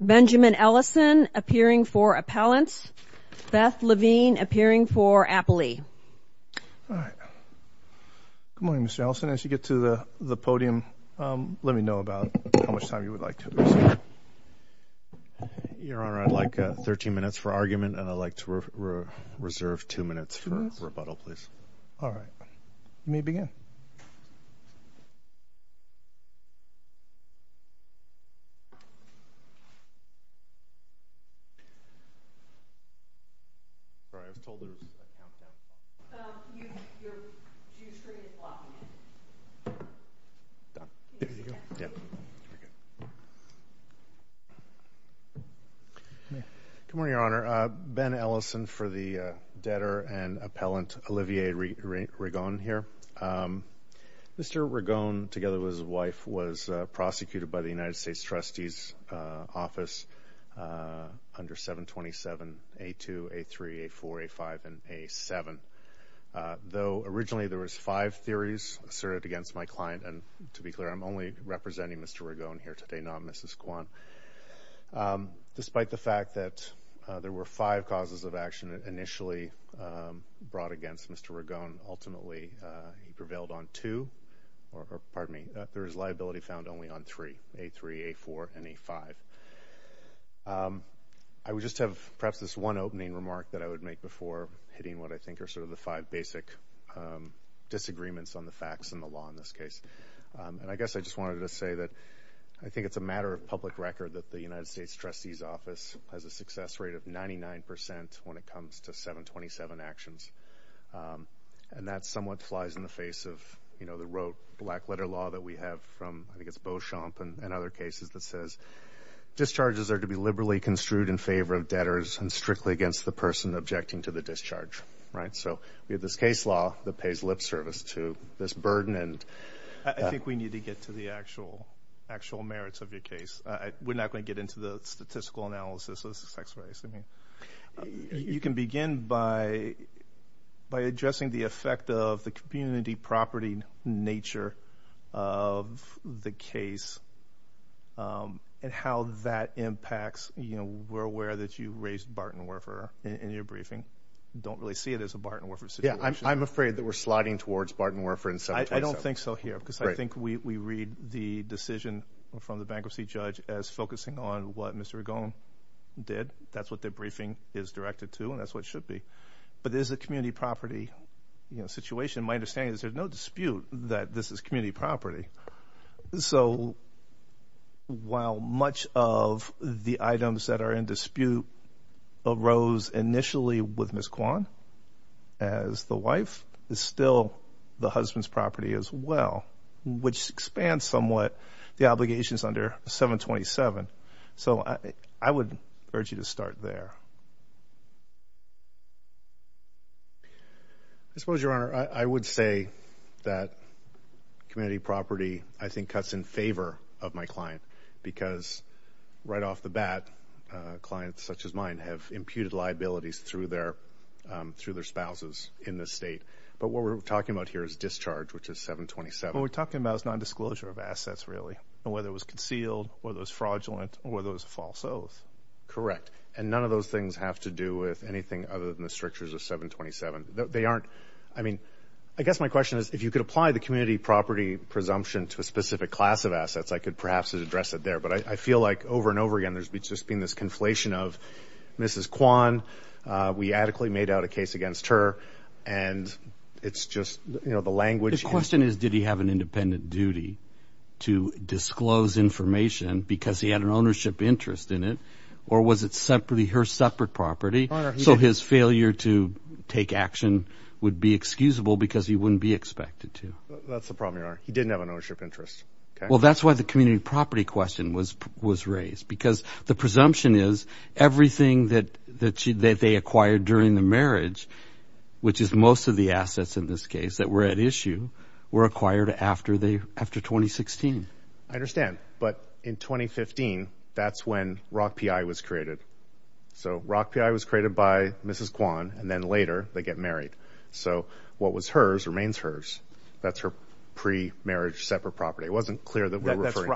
Benjamin Ellison appearing for appellants, Beth Levine appearing for appellee. All right. Good morning, Mr. Ellison. As you get to the podium, let me know about how much time you would like to reserve. Your Honor, I'd like 13 minutes for argument, and I'd like to reserve 2 minutes for rebuttal, please. All right. You may begin. Good morning, Your Honor. Ben Ellison for the debtor and appellant Olivier Ringon here. Mr. Ringon, together with his wife, was prosecuted by the United States Trustee's Office under 727A2, A3, A4, A5, and A7. Though originally there were five theories asserted against my client, and to be clear, I'm only representing Mr. Ringon here today, not Mrs. Kwang, despite the fact that there were five causes of action initially brought against Mr. Ringon. Ultimately, he prevailed on two, or pardon me, there was liability found only on three, A3, A4, and A5. I would just have perhaps this one opening remark that I would make before hitting what I think are sort of the five basic disagreements on the facts and the law in this case. I guess I just wanted to say that I think it's a matter of public record that the United States Trustee's Office has a success rate of 99% when it comes to 727 actions. That somewhat flies in the face of the rote black-letter law that we have from, I think it's Beauchamp and other cases that says, discharges are to be liberally construed in favor of debtors and strictly against the person objecting to the discharge. We have this case law that pays lip service to this burden. I think we need to get to the actual merits of your case. We're not going to get into the statistical analysis of the success rates. You can begin by addressing the effect of the community property nature of the case and how that impacts. We're aware that you raised Barton-Werfer in your briefing. Don't really see it as a Barton-Werfer situation. I'm afraid that we're sliding towards Barton-Werfer in 727. I don't think so here because I think we read the decision from the bankruptcy judge as focusing on what Mr. Ragone did. That's what their briefing is directed to and that's what it should be. But there's a community property situation. My understanding is there's no dispute that this is community property. So while much of the items that are in dispute arose initially with Ms. Kwan as the wife, it's still the husband's property as well, which expands somewhat the obligations under 727. So I would urge you to start there. I suppose, Your Honor, I would say that community property, I think, cuts in favor of my client because right off the bat, clients such as mine have imputed liabilities through their spouses in this state. But what we're talking about here is discharge, which is 727. What we're talking about is nondisclosure of assets, really, whether it was concealed, whether it was fraudulent, or whether it was a false oath. Correct. And none of those things have to do with anything other than the strictures of 727. They aren't. I mean, I guess my question is if you could apply the community property presumption to a specific class of assets, I could perhaps address it there. But I feel like over and over again there's just been this conflation of Ms. Kwan, we adequately made out a case against her, and it's just the language. The question is did he have an independent duty to disclose information because he had an ownership interest in it, or was it her separate property so his failure to take action would be excusable because he wouldn't be expected to? That's the problem, Your Honor. He didn't have an ownership interest. Well, that's why the community property question was raised, because the presumption is everything that they acquired during the marriage, which is most of the assets in this case that were at issue, were acquired after 2016. I understand. But in 2015, that's when ROC-PI was created. So ROC-PI was created by Mrs. Kwan, and then later they get married. So what was hers remains hers. That's her pre-marriage separate property. It wasn't clear that we were referring.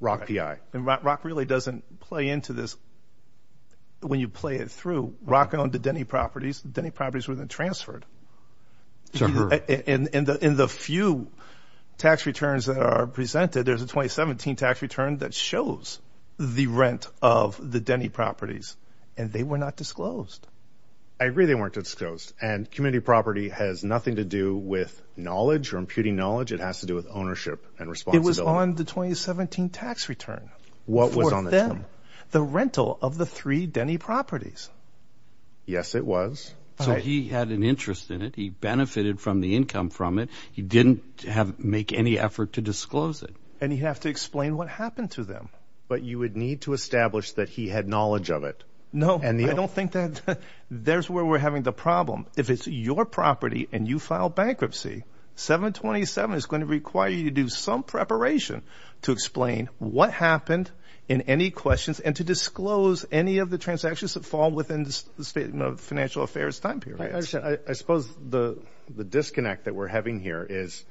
ROC-PI. And ROC really doesn't play into this. When you play it through, ROC owned the Denny properties. The Denny properties were then transferred. To her. In the few tax returns that are presented, there's a 2017 tax return that shows the rent of the Denny properties, and they were not disclosed. I agree they weren't disclosed. And community property has nothing to do with knowledge or imputing knowledge. It has to do with ownership and responsibility. It was on the 2017 tax return. What was on the term? For them. The rental of the three Denny properties. Yes, it was. So he had an interest in it. He benefited from the income from it. He didn't make any effort to disclose it. And he'd have to explain what happened to them. But you would need to establish that he had knowledge of it. No. I don't think that's where we're having the problem. If it's your property and you file bankruptcy, 727 is going to require you to do some preparation to explain what happened in any questions and to disclose any of the transactions that fall within the financial affairs time period. I suppose the disconnect that we're having here is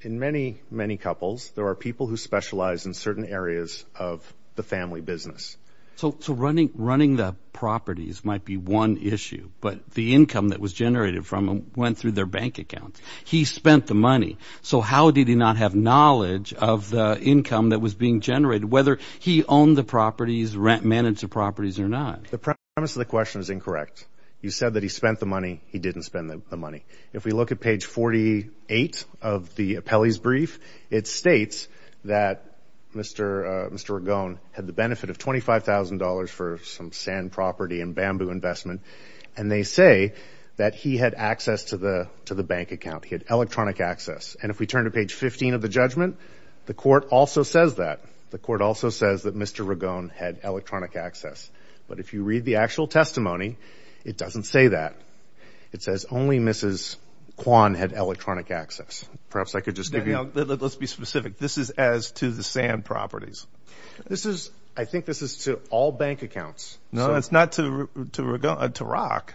in many, many couples, there are people who specialize in certain areas of the family business. So running the properties might be one issue, but the income that was generated from them went through their bank account. He spent the money. So how did he not have knowledge of the income that was being generated, whether he owned the properties, managed the properties or not? The premise of the question is incorrect. You said that he spent the money. He didn't spend the money. If we look at page 48 of the appellee's brief, it states that Mr. Ragone had the benefit of $25,000 for some sand property and bamboo investment. And they say that he had access to the bank account. He had electronic access. And if we turn to page 15 of the judgment, the court also says that. The court also says that Mr. Ragone had electronic access. But if you read the actual testimony, it doesn't say that. It says only Mrs. Kwan had electronic access. Perhaps I could just give you. Let's be specific. This is as to the sand properties. I think this is to all bank accounts. No, it's not to Rock.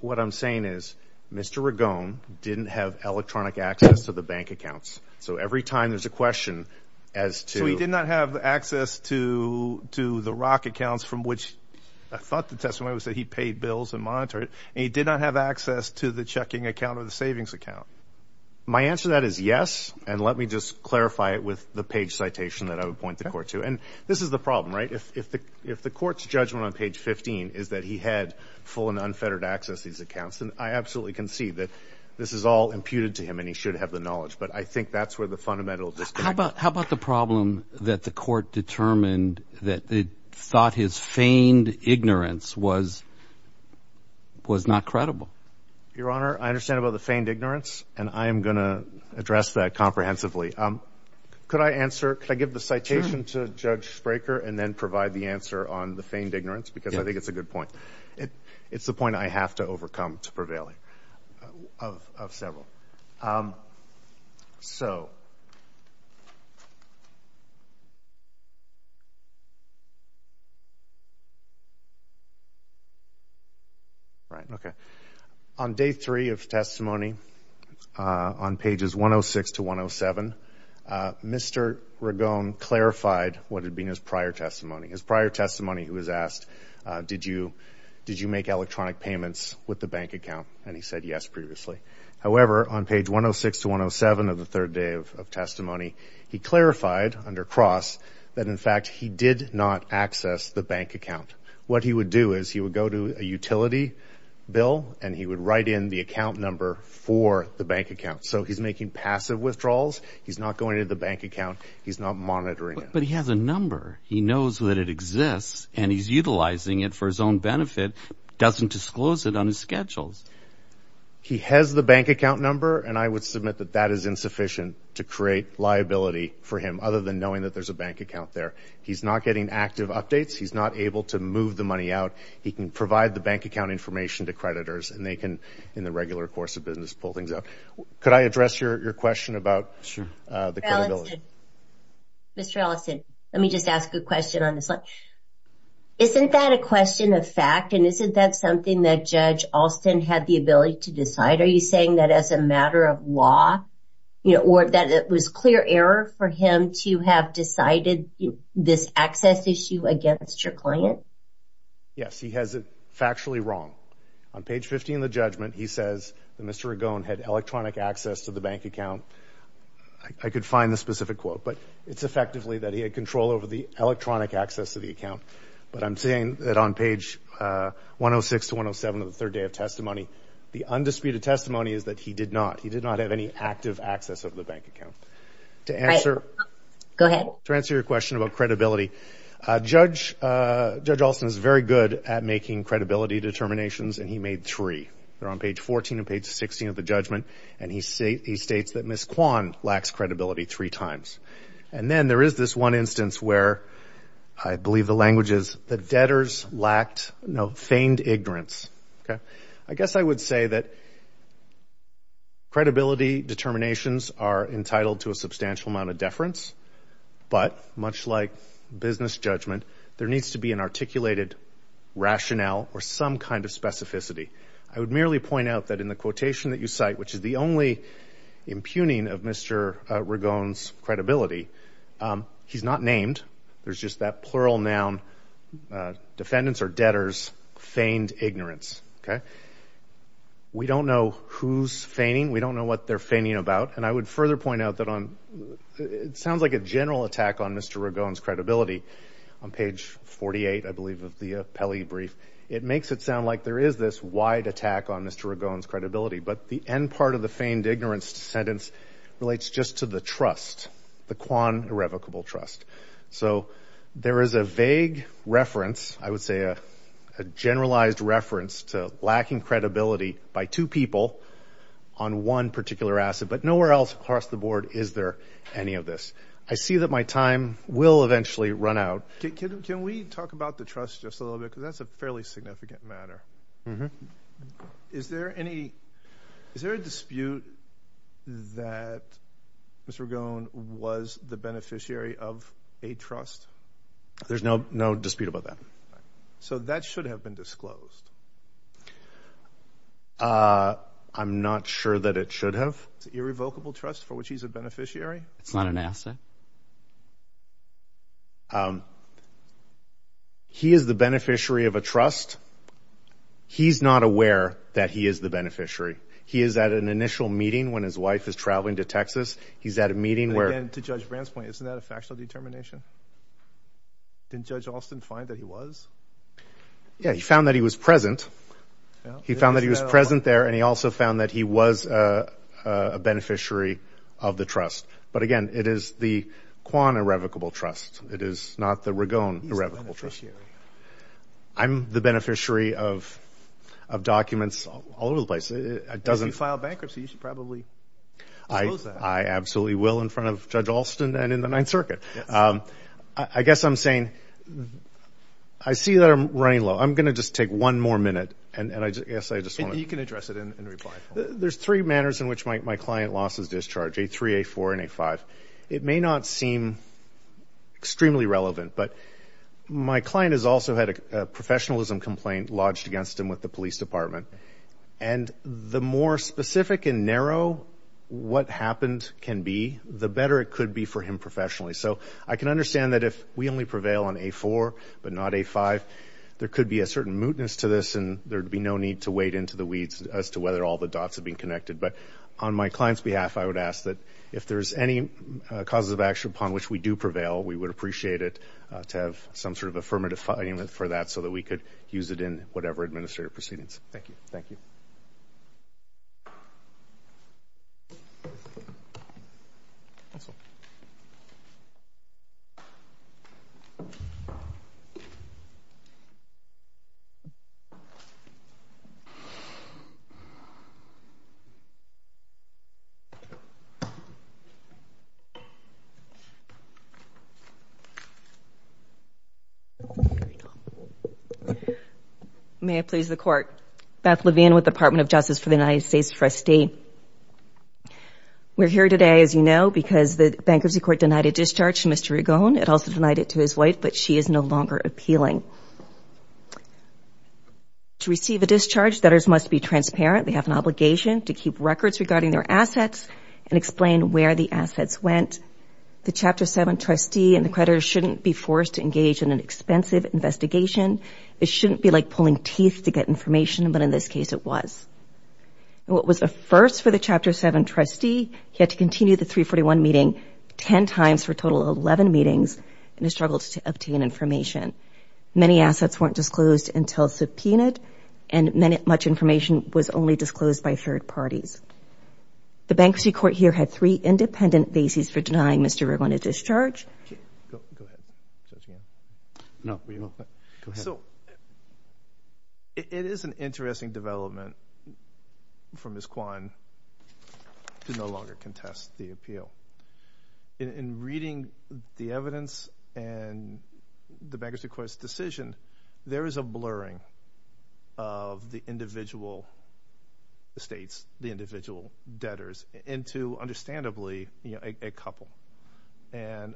What I'm saying is Mr. Ragone didn't have electronic access to the bank accounts. So every time there's a question as to. He did not have access to the Rock accounts from which I thought the testimony was that he paid bills and monitored. And he did not have access to the checking account or the savings account. My answer to that is yes. And let me just clarify it with the page citation that I would point the court to. And this is the problem, right? If the court's judgment on page 15 is that he had full and unfettered access to these accounts, then I absolutely concede that this is all imputed to him. And he should have the knowledge. But I think that's where the fundamental disconnect. How about the problem that the court determined that they thought his feigned ignorance was not credible? Your Honor, I understand about the feigned ignorance. And I am going to address that comprehensively. Could I answer? Could I give the citation to Judge Spraker and then provide the answer on the feigned ignorance? Because I think it's a good point. It's the point I have to overcome to prevail of several. So on day three of testimony, on pages 106 to 107, Mr. Ragone clarified what had been his prior testimony. His prior testimony, he was asked, did you make electronic payments with the bank account? And he said yes previously. However, on page 106 to 107 of the third day of testimony, he clarified under Cross that, in fact, he did not access the bank account. What he would do is he would go to a utility bill, and he would write in the account number for the bank account. So he's making passive withdrawals. He's not going to the bank account. He's not monitoring it. But he has a number. He knows that it exists, and he's utilizing it for his own benefit, doesn't disclose it on his schedules. He has the bank account number, and I would submit that that is insufficient to create liability for him, other than knowing that there's a bank account there. He's not getting active updates. He's not able to move the money out. He can provide the bank account information to creditors, and they can, in the regular course of business, pull things out. Could I address your question about the credibility? Sure. Mr. Ellison, let me just ask a question on this one. Isn't that a question of fact, and isn't that something that Judge Alston had the ability to decide? Are you saying that as a matter of law or that it was clear error for him to have decided this access issue against your client? Yes, he has it factually wrong. On page 15 of the judgment, he says that Mr. Ragone had electronic access to the bank account. I could find the specific quote, but it's effectively that he had control over the electronic access to the account. But I'm saying that on page 106 to 107 of the third day of testimony, the undisputed testimony is that he did not. He did not have any active access of the bank account. All right. Go ahead. To answer your question about credibility, Judge Alston is very good at making credibility determinations, and he made three. They're on page 14 and page 16 of the judgment, and he states that Ms. Kwan lacks credibility three times. And then there is this one instance where I believe the language is the debtors lacked, no, feigned ignorance. Okay. I guess I would say that credibility determinations are entitled to a substantial amount of deference, but much like business judgment, there needs to be an articulated rationale or some kind of specificity. I would merely point out that in the quotation that you cite, which is the only impugning of Mr. Ragone's credibility, he's not named. There's just that plural noun, defendants or debtors, feigned ignorance. Okay. We don't know who's feigning. We don't know what they're feigning about. And I would further point out that it sounds like a general attack on Mr. Ragone's credibility. On page 48, I believe, of the Pelley brief, it makes it sound like there is this wide attack on Mr. Ragone's credibility, but the end part of the feigned ignorance sentence relates just to the trust, the Kwan irrevocable trust. So there is a vague reference, I would say a generalized reference to lacking credibility by two people on one particular asset, but nowhere else across the board is there any of this. I see that my time will eventually run out. Can we talk about the trust just a little bit because that's a fairly significant matter? Mm-hmm. Is there a dispute that Mr. Ragone was the beneficiary of a trust? There's no dispute about that. So that should have been disclosed. I'm not sure that it should have. It's an irrevocable trust for which he's a beneficiary? It's not an asset? He is the beneficiary of a trust. He's not aware that he is the beneficiary. He is at an initial meeting when his wife is traveling to Texas. He's at a meeting where— And again, to Judge Brand's point, isn't that a factual determination? Didn't Judge Alston find that he was? Yeah, he found that he was present. He found that he was present there, and he also found that he was a beneficiary of the trust. But again, it is the Quan Irrevocable Trust. It is not the Ragone Irrevocable Trust. I'm the beneficiary of documents all over the place. If you file bankruptcy, you should probably disclose that. I absolutely will in front of Judge Alston and in the Ninth Circuit. I guess I'm saying I see that I'm running low. I'm going to just take one more minute, and I guess I just want to— You can address it in reply. There's three manners in which my client losses discharge, A3, A4, and A5. It may not seem extremely relevant, but my client has also had a professionalism complaint lodged against him with the police department. And the more specific and narrow what happened can be, the better it could be for him professionally. So I can understand that if we only prevail on A4 but not A5, there could be a certain mootness to this, and there would be no need to wade into the weeds as to whether all the dots have been connected. But on my client's behalf, I would ask that if there's any causes of action upon which we do prevail, we would appreciate it to have some sort of affirmative finding for that so that we could use it in whatever administrative proceedings. Thank you. Thank you. Thank you. May it please the Court. Beth Levine with the Department of Justice for the United States First State. We're here today, as you know, because the Bankruptcy Court denied a discharge to Mr. Regone. It also denied it to his wife, but she is no longer appealing. To receive a discharge, debtors must be transparent. They have an obligation to keep records regarding their assets and explain where the assets went. The Chapter 7 trustee and the creditor shouldn't be forced to engage in an expensive investigation. It shouldn't be like pulling teeth to get information, but in this case it was. What was a first for the Chapter 7 trustee, he had to continue the 341 meeting 10 times for a total of 11 meetings and has struggled to obtain information. Many assets weren't disclosed until subpoenaed, and much information was only disclosed by third parties. The Bankruptcy Court here had three independent bases for denying Mr. Regone a discharge. Go ahead. It is an interesting development for Ms. Kwan to no longer contest the appeal. In reading the evidence and the Bankruptcy Court's decision, there is a blurring of the individual estates, the individual debtors, into, understandably, a couple. And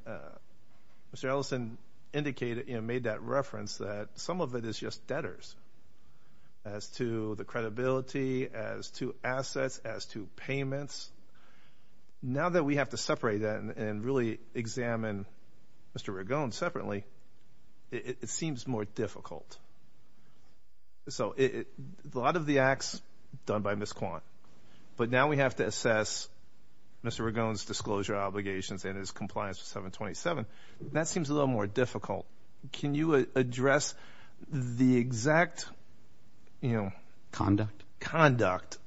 Mr. Ellison made that reference that some of it is just debtors as to the credibility, as to assets, as to payments. Now that we have to separate that and really examine Mr. Regone separately, it seems more difficult. So a lot of the acts done by Ms. Kwan, but now we have to assess Mr. Regone's disclosure obligations and his compliance with 727. That seems a little more difficult. Can you address the exact conduct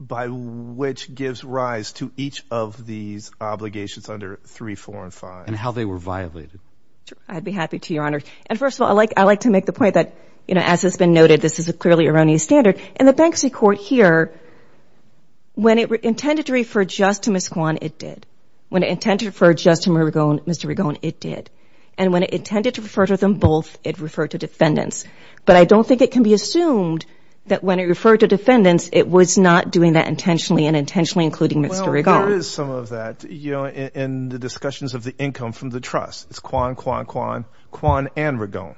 by which gives rise to each of these obligations under 3, 4, and 5? And how they were violated. I'd be happy to, Your Honor. And first of all, I'd like to make the point that, you know, as has been noted, this is a clearly erroneous standard. And the Bankruptcy Court here, when it intended to refer just to Ms. Kwan, it did. When it intended to refer just to Mr. Regone, it did. And when it intended to refer to them both, it referred to defendants. But I don't think it can be assumed that when it referred to defendants, it was not doing that intentionally and intentionally including Mr. Regone. Well, there is some of that, you know, in the discussions of the income from the trust. It's Kwan, Kwan, Kwan, Kwan and Regone.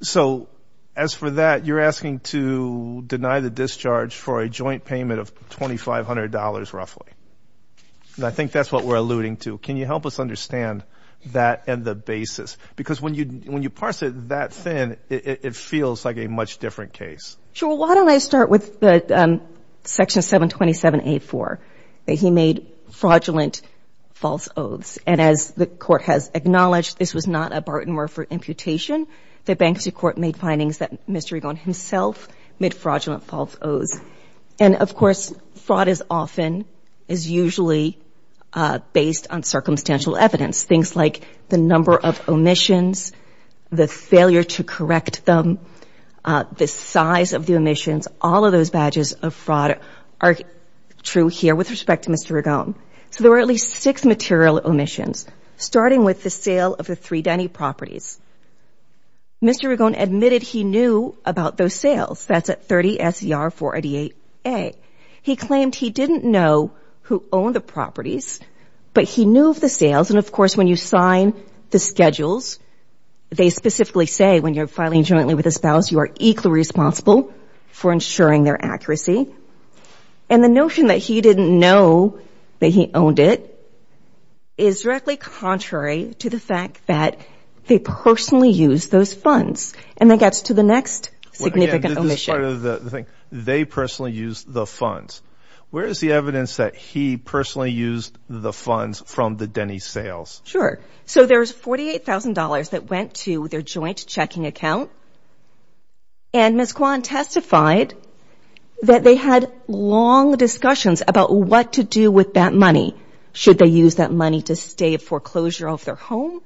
So as for that, you're asking to deny the discharge for a joint payment of $2,500 roughly. And I think that's what we're alluding to. Can you help us understand that and the basis? Because when you parse it that thin, it feels like a much different case. Sure. Why don't I start with Section 727A4, that he made fraudulent false oaths. And as the Court has acknowledged, this was not a Barton-Murphy imputation. The Bankruptcy Court made findings that Mr. Regone himself made fraudulent false oaths. And, of course, fraud is often, is usually based on circumstantial evidence, things like the number of omissions, the failure to correct them, the size of the omissions. All of those badges of fraud are true here with respect to Mr. Regone. So there were at least six material omissions, starting with the sale of the three Denny properties. Mr. Regone admitted he knew about those sales. That's at 30 SCR 488A. He claimed he didn't know who owned the properties, but he knew of the sales. And, of course, when you sign the schedules, they specifically say when you're filing jointly with a spouse, you are equally responsible for ensuring their accuracy. And the notion that he didn't know that he owned it is directly contrary to the fact that they personally used those funds. And that gets to the next significant omission. They personally used the funds. Where is the evidence that he personally used the funds from the Denny sales? Sure. So there's $48,000 that went to their joint checking account. And Ms. Kwan testified that they had long discussions about what to do with that money. Should they use that money to stay at foreclosure of their home?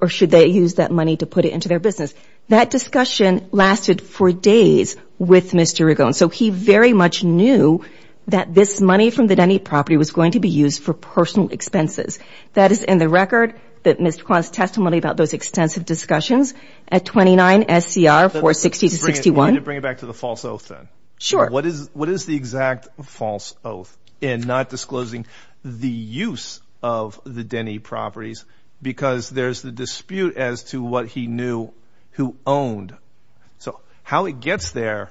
Or should they use that money to put it into their business? That discussion lasted for days with Mr. Regone. So he very much knew that this money from the Denny property was going to be used for personal expenses. That is in the record that Ms. Kwan's testimony about those extensive discussions at 29 SCR 460-61. Let me bring it back to the false oath then. Sure. What is the exact false oath in not disclosing the use of the Denny properties? Because there's the dispute as to what he knew who owned. So how it gets there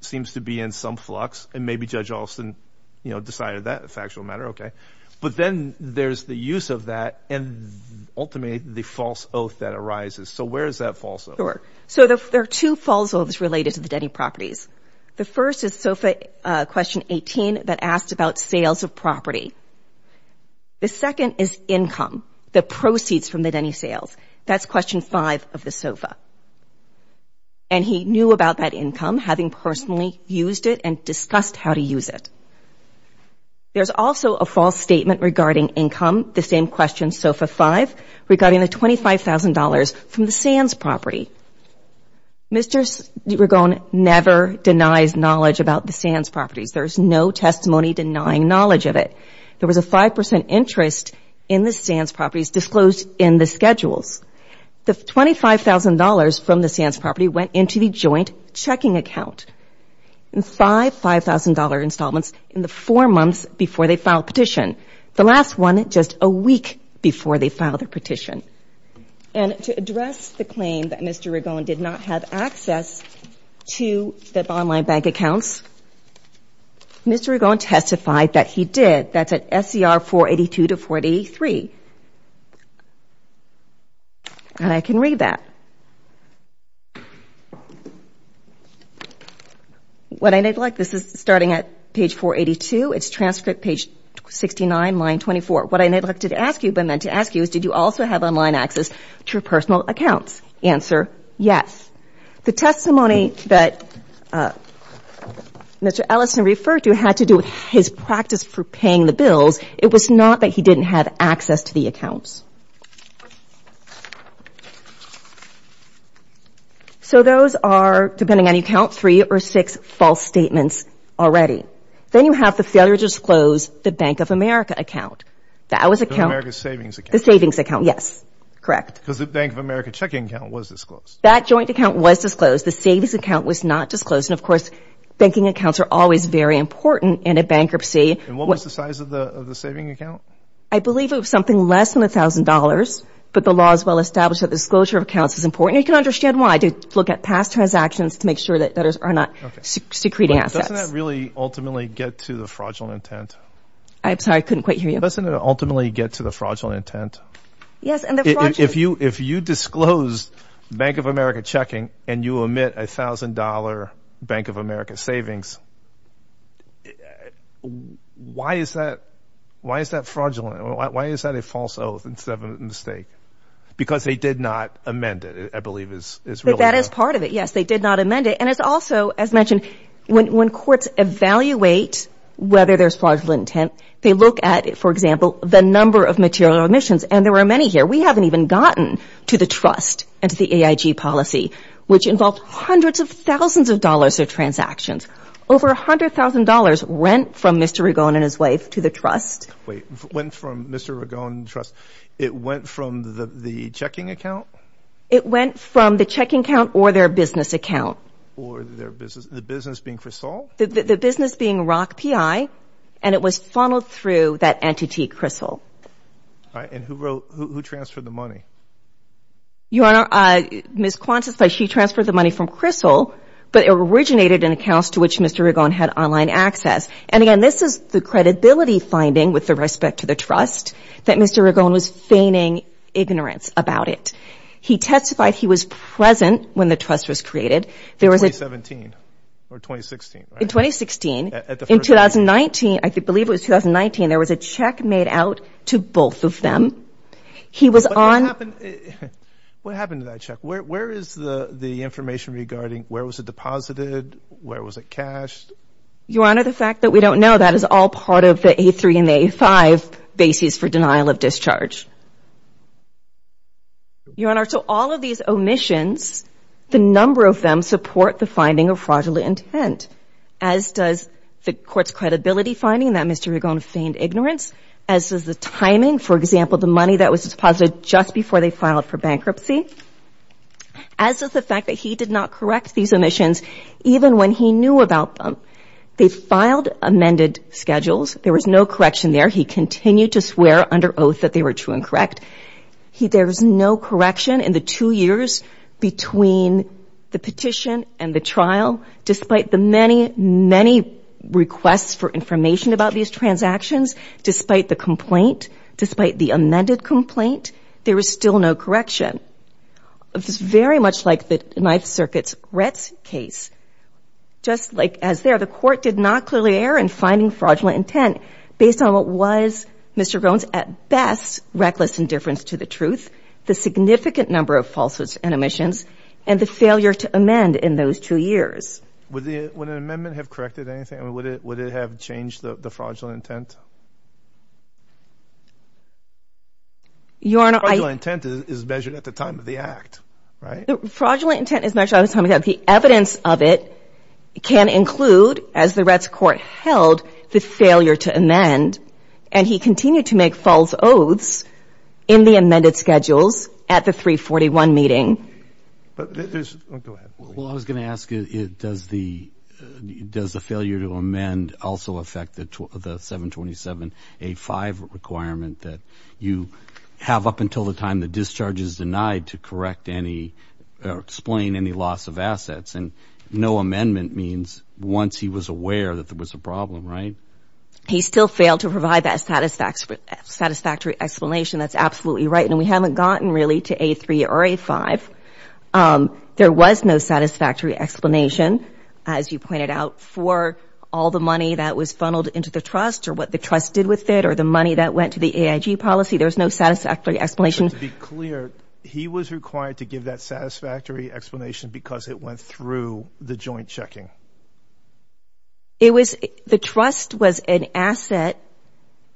seems to be in some flux. And maybe Judge Alston, you know, decided that's a factual matter. Okay. But then there's the use of that and ultimately the false oath that arises. So where is that false oath? So there are two false oaths related to the Denny properties. The first is SOFA question 18 that asked about sales of property. The second is income, the proceeds from the Denny sales. That's question 5 of the SOFA. And he knew about that income, having personally used it and discussed how to use it. There's also a false statement regarding income, the same question SOFA 5, regarding the $25,000 from the Sands property. Mr. Ragone never denies knowledge about the Sands properties. There's no testimony denying knowledge of it. There was a 5% interest in the Sands properties disclosed in the schedules. The $25,000 from the Sands property went into the joint checking account. And five $5,000 installments in the four months before they filed a petition. The last one, just a week before they filed their petition. And to address the claim that Mr. Ragone did not have access to the online bank accounts, Mr. Ragone testified that he did. That's at SCR 482-483. And I can read that. What I neglect, this is starting at page 482, it's transcript page 69, line 24. What I neglected to ask you, but meant to ask you, is did you also have online access to your personal accounts? Answer, yes. The testimony that Mr. Ellison referred to had to do with his practice for paying the bills. It was not that he didn't have access to the accounts. So those are, depending on your count, three or six false statements already. Then you have the failure to disclose the Bank of America account. That was account. The Bank of America savings account. The savings account, yes. Correct. Because the Bank of America checking account was disclosed. That joint account was disclosed. The savings account was not disclosed. And, of course, banking accounts are always very important in a bankruptcy. And what was the size of the savings account? I believe it was something less than $1,000. But the law is well established that disclosure of accounts is important. You can understand why. To look at past transactions to make sure that debtors are not secreting assets. Doesn't that really ultimately get to the fraudulent intent? I'm sorry. I couldn't quite hear you. Doesn't it ultimately get to the fraudulent intent? Yes. If you disclose Bank of America checking and you omit a $1,000 Bank of America savings, why is that fraudulent? Why is that a false oath instead of a mistake? Because they did not amend it, I believe, is really correct. That is part of it, yes. They did not amend it. And it's also, as mentioned, when courts evaluate whether there's fraudulent intent, they look at, for example, the number of material omissions. And there were many here. We haven't even gotten to the trust and to the AIG policy, which involved hundreds of thousands of dollars of transactions. Over $100,000 went from Mr. Ragone and his wife to the trust. Wait. Went from Mr. Ragone and the trust. It went from the checking account? It went from the checking account or their business account. Or their business. The business being Crystal? The business being Rock PI. And it was funneled through that entity, Crystal. All right. And who transferred the money? Your Honor, Ms. Quantas, she transferred the money from Crystal, but it originated in accounts to which Mr. Ragone had online access. And, again, this is the credibility finding with respect to the trust, that Mr. Ragone was feigning ignorance about it. He testified he was present when the trust was created. In 2017 or 2016, right? In 2016. At the first meeting. In 2019, I believe it was 2019, there was a check made out to both of them. He was on. What happened to that check? Where is the information regarding where was it deposited, where was it cashed? Your Honor, the fact that we don't know, that is all part of the A3 and the A5 basis for denial of discharge. Your Honor, so all of these omissions, the number of them support the finding of fraudulent intent, as does the court's credibility finding that Mr. Ragone feigned ignorance, as does the timing, for example, the money that was deposited just before they filed for bankruptcy, as does the fact that he did not correct these omissions even when he knew about them. They filed amended schedules. There was no correction there. He continued to swear under oath that they were true and correct. There was no correction in the two years between the petition and the trial, despite the many, many requests for information about these transactions, despite the complaint, despite the amended complaint, there was still no correction. It was very much like the Ninth Circuit's Retz case. Just like as there, the court did not clearly err in finding fraudulent intent based on what was, Mr. Ragone, at best, reckless indifference to the truth, the significant number of falsehoods and omissions, and the failure to amend in those two years. Would an amendment have corrected anything? Would it have changed the fraudulent intent? Your Honor, I— Fraudulent intent is measured at the time of the act, right? Fraudulent intent is measured at the time of the act. The evidence of it can include, as the Retz court held, the failure to amend, and he continued to make false oaths in the amended schedules at the 341 meeting. Go ahead. Well, I was going to ask, does the failure to amend also affect the 727.85 requirement that you have up until the time the discharge is denied to correct any or explain any loss of assets? And no amendment means once he was aware that there was a problem, right? He still failed to provide that satisfactory explanation. That's absolutely right. And we haven't gotten, really, to A3 or A5. There was no satisfactory explanation, as you pointed out, for all the money that was funneled into the trust or what the trust did with it or the money that went to the AIG policy. There was no satisfactory explanation. But to be clear, he was required to give that satisfactory explanation because it went through the joint checking. The trust was an asset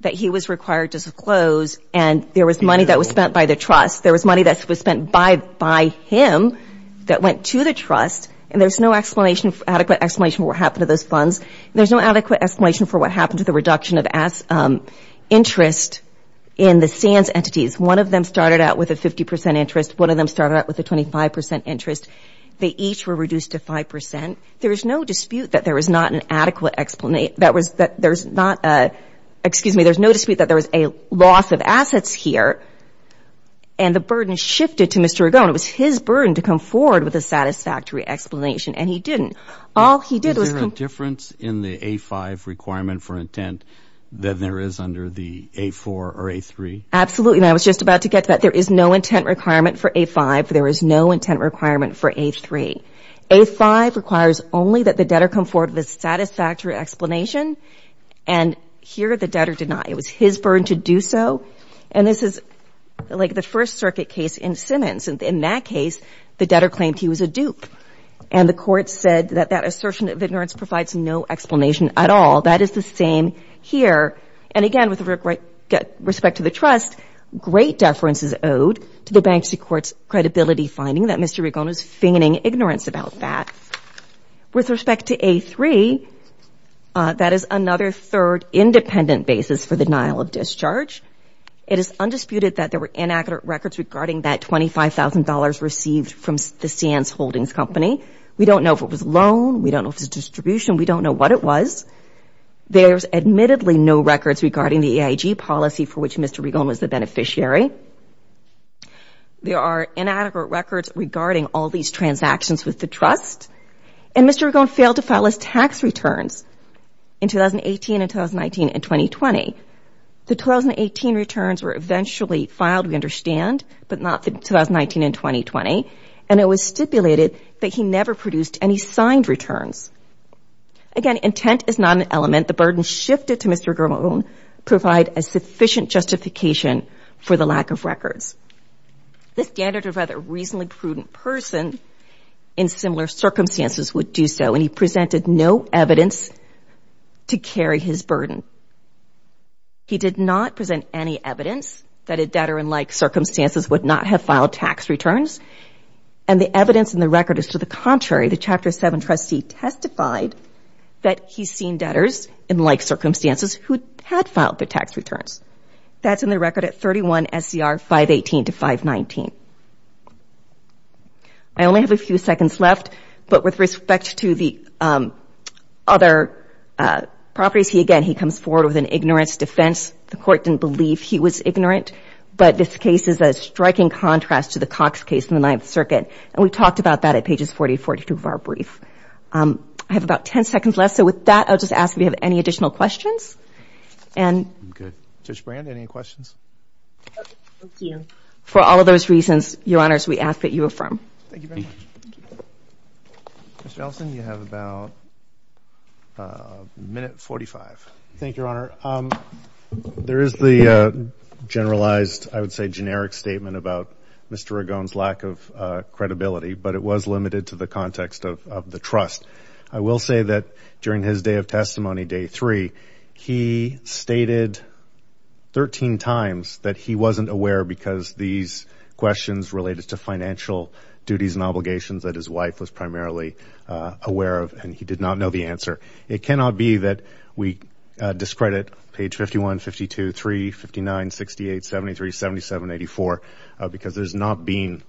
that he was required to disclose, and there was money that was spent by the trust. There was money that was spent by him that went to the trust, and there's no adequate explanation for what happened to those funds. There's no adequate explanation for what happened to the reduction of interest in the SANS entities. One of them started out with a 50 percent interest. One of them started out with a 25 percent interest. They each were reduced to 5 percent. There's no dispute that there was not an adequate explanation. There's no dispute that there was a loss of assets here, and the burden shifted to Mr. Ragone. It was his burden to come forward with a satisfactory explanation, and he didn't. Is there a difference in the A5 requirement for intent than there is under the A4 or A3? Absolutely. And I was just about to get to that. There is no intent requirement for A5. There is no intent requirement for A3. A5 requires only that the debtor come forward with a satisfactory explanation, and here the debtor did not. It was his burden to do so, and this is like the First Circuit case in Simmons. In that case, the debtor claimed he was a dupe, and the court said that that assertion of ignorance provides no explanation at all. That is the same here. And, again, with respect to the trust, great deference is owed to the bankruptcy court's credibility finding that Mr. Ragone was feigning ignorance about that. With respect to A3, that is another third independent basis for the denial of discharge. It is undisputed that there were inaccurate records regarding that $25,000 received from the Sands Holdings Company. We don't know if it was a loan. We don't know if it was a distribution. We don't know what it was. There's admittedly no records regarding the EIG policy for which Mr. Ragone was the beneficiary. There are inadequate records regarding all these transactions with the trust, and Mr. Ragone failed to file his tax returns in 2018 and 2019 and 2020. The 2018 returns were eventually filed, we understand, but not the 2019 and 2020, and it was stipulated that he never produced any signed returns. Again, intent is not an element. The burden shifted to Mr. Ragone to provide a sufficient justification for the lack of records. The standard of whether a reasonably prudent person in similar circumstances would do so, and he presented no evidence to carry his burden. He did not present any evidence that a debtor in like circumstances would not have filed tax returns, and the evidence in the record is to the contrary. The Chapter 7 trustee testified that he's seen debtors in like circumstances who had filed their tax returns. That's in the record at 31 SCR 518 to 519. I only have a few seconds left, but with respect to the other properties, again, he comes forward with an ignorance defense. The court didn't believe he was ignorant, but this case is a striking contrast to the Cox case in the Ninth Circuit, and we talked about that at pages 40 and 42 of our brief. I have about 10 seconds left, so with that, I'll just ask if you have any additional questions. And Judge Brand, any questions? Thank you. For all of those reasons, Your Honors, we ask that you affirm. Thank you very much. Mr. Ellison, you have about a minute 45. Thank you, Your Honor. There is the generalized, I would say generic statement about Mr. Ragone's lack of credibility, but it was limited to the context of the trust. I will say that during his day of testimony, day three, he stated 13 times that he wasn't aware because these questions related to financial duties and obligations that his wife was primarily aware of, and he did not know the answer. It cannot be that we discredit page 51, 52, 3, 59, 68, 73, 77, 84, because there's not been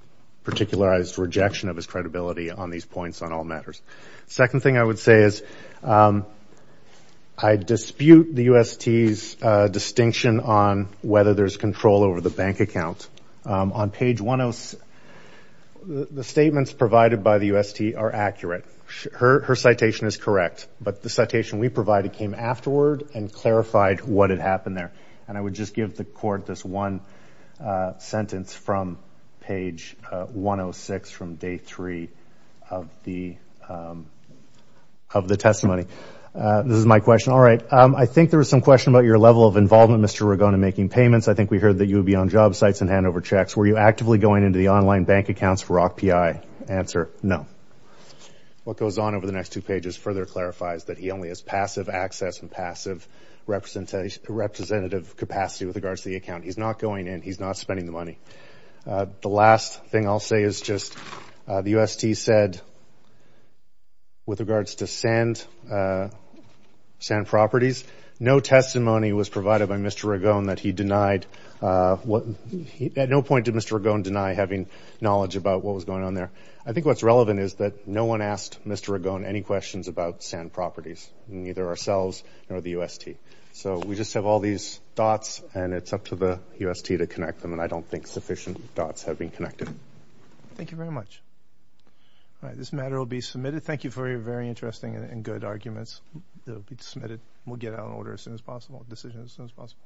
particularized rejection of his credibility on these points on all matters. The second thing I would say is I dispute the UST's distinction on whether there's control over the bank account. On page 10, the statements provided by the UST are accurate. Her citation is correct, but the citation we provided came afterward and clarified what had happened there. And I would just give the Court this one sentence from page 106 from day three of the testimony. This is my question. All right. I think there was some question about your level of involvement, Mr. Ragone, in making payments. I think we heard that you would be on job sites and hand over checks. Were you actively going into the online bank accounts for ROC-PI? Answer, no. What goes on over the next two pages further clarifies that he only has passive access and passive representative capacity with regards to the account. He's not going in. He's not spending the money. The last thing I'll say is just the UST said, with regards to sand properties, no testimony was provided by Mr. Ragone that he denied what he – to what point did Mr. Ragone deny having knowledge about what was going on there? I think what's relevant is that no one asked Mr. Ragone any questions about sand properties, neither ourselves nor the UST. So we just have all these dots, and it's up to the UST to connect them, and I don't think sufficient dots have been connected. Thank you very much. All right. This matter will be submitted. Thank you for your very interesting and good arguments. It will be submitted. We'll get it out of order as soon as possible, decisions as soon as possible.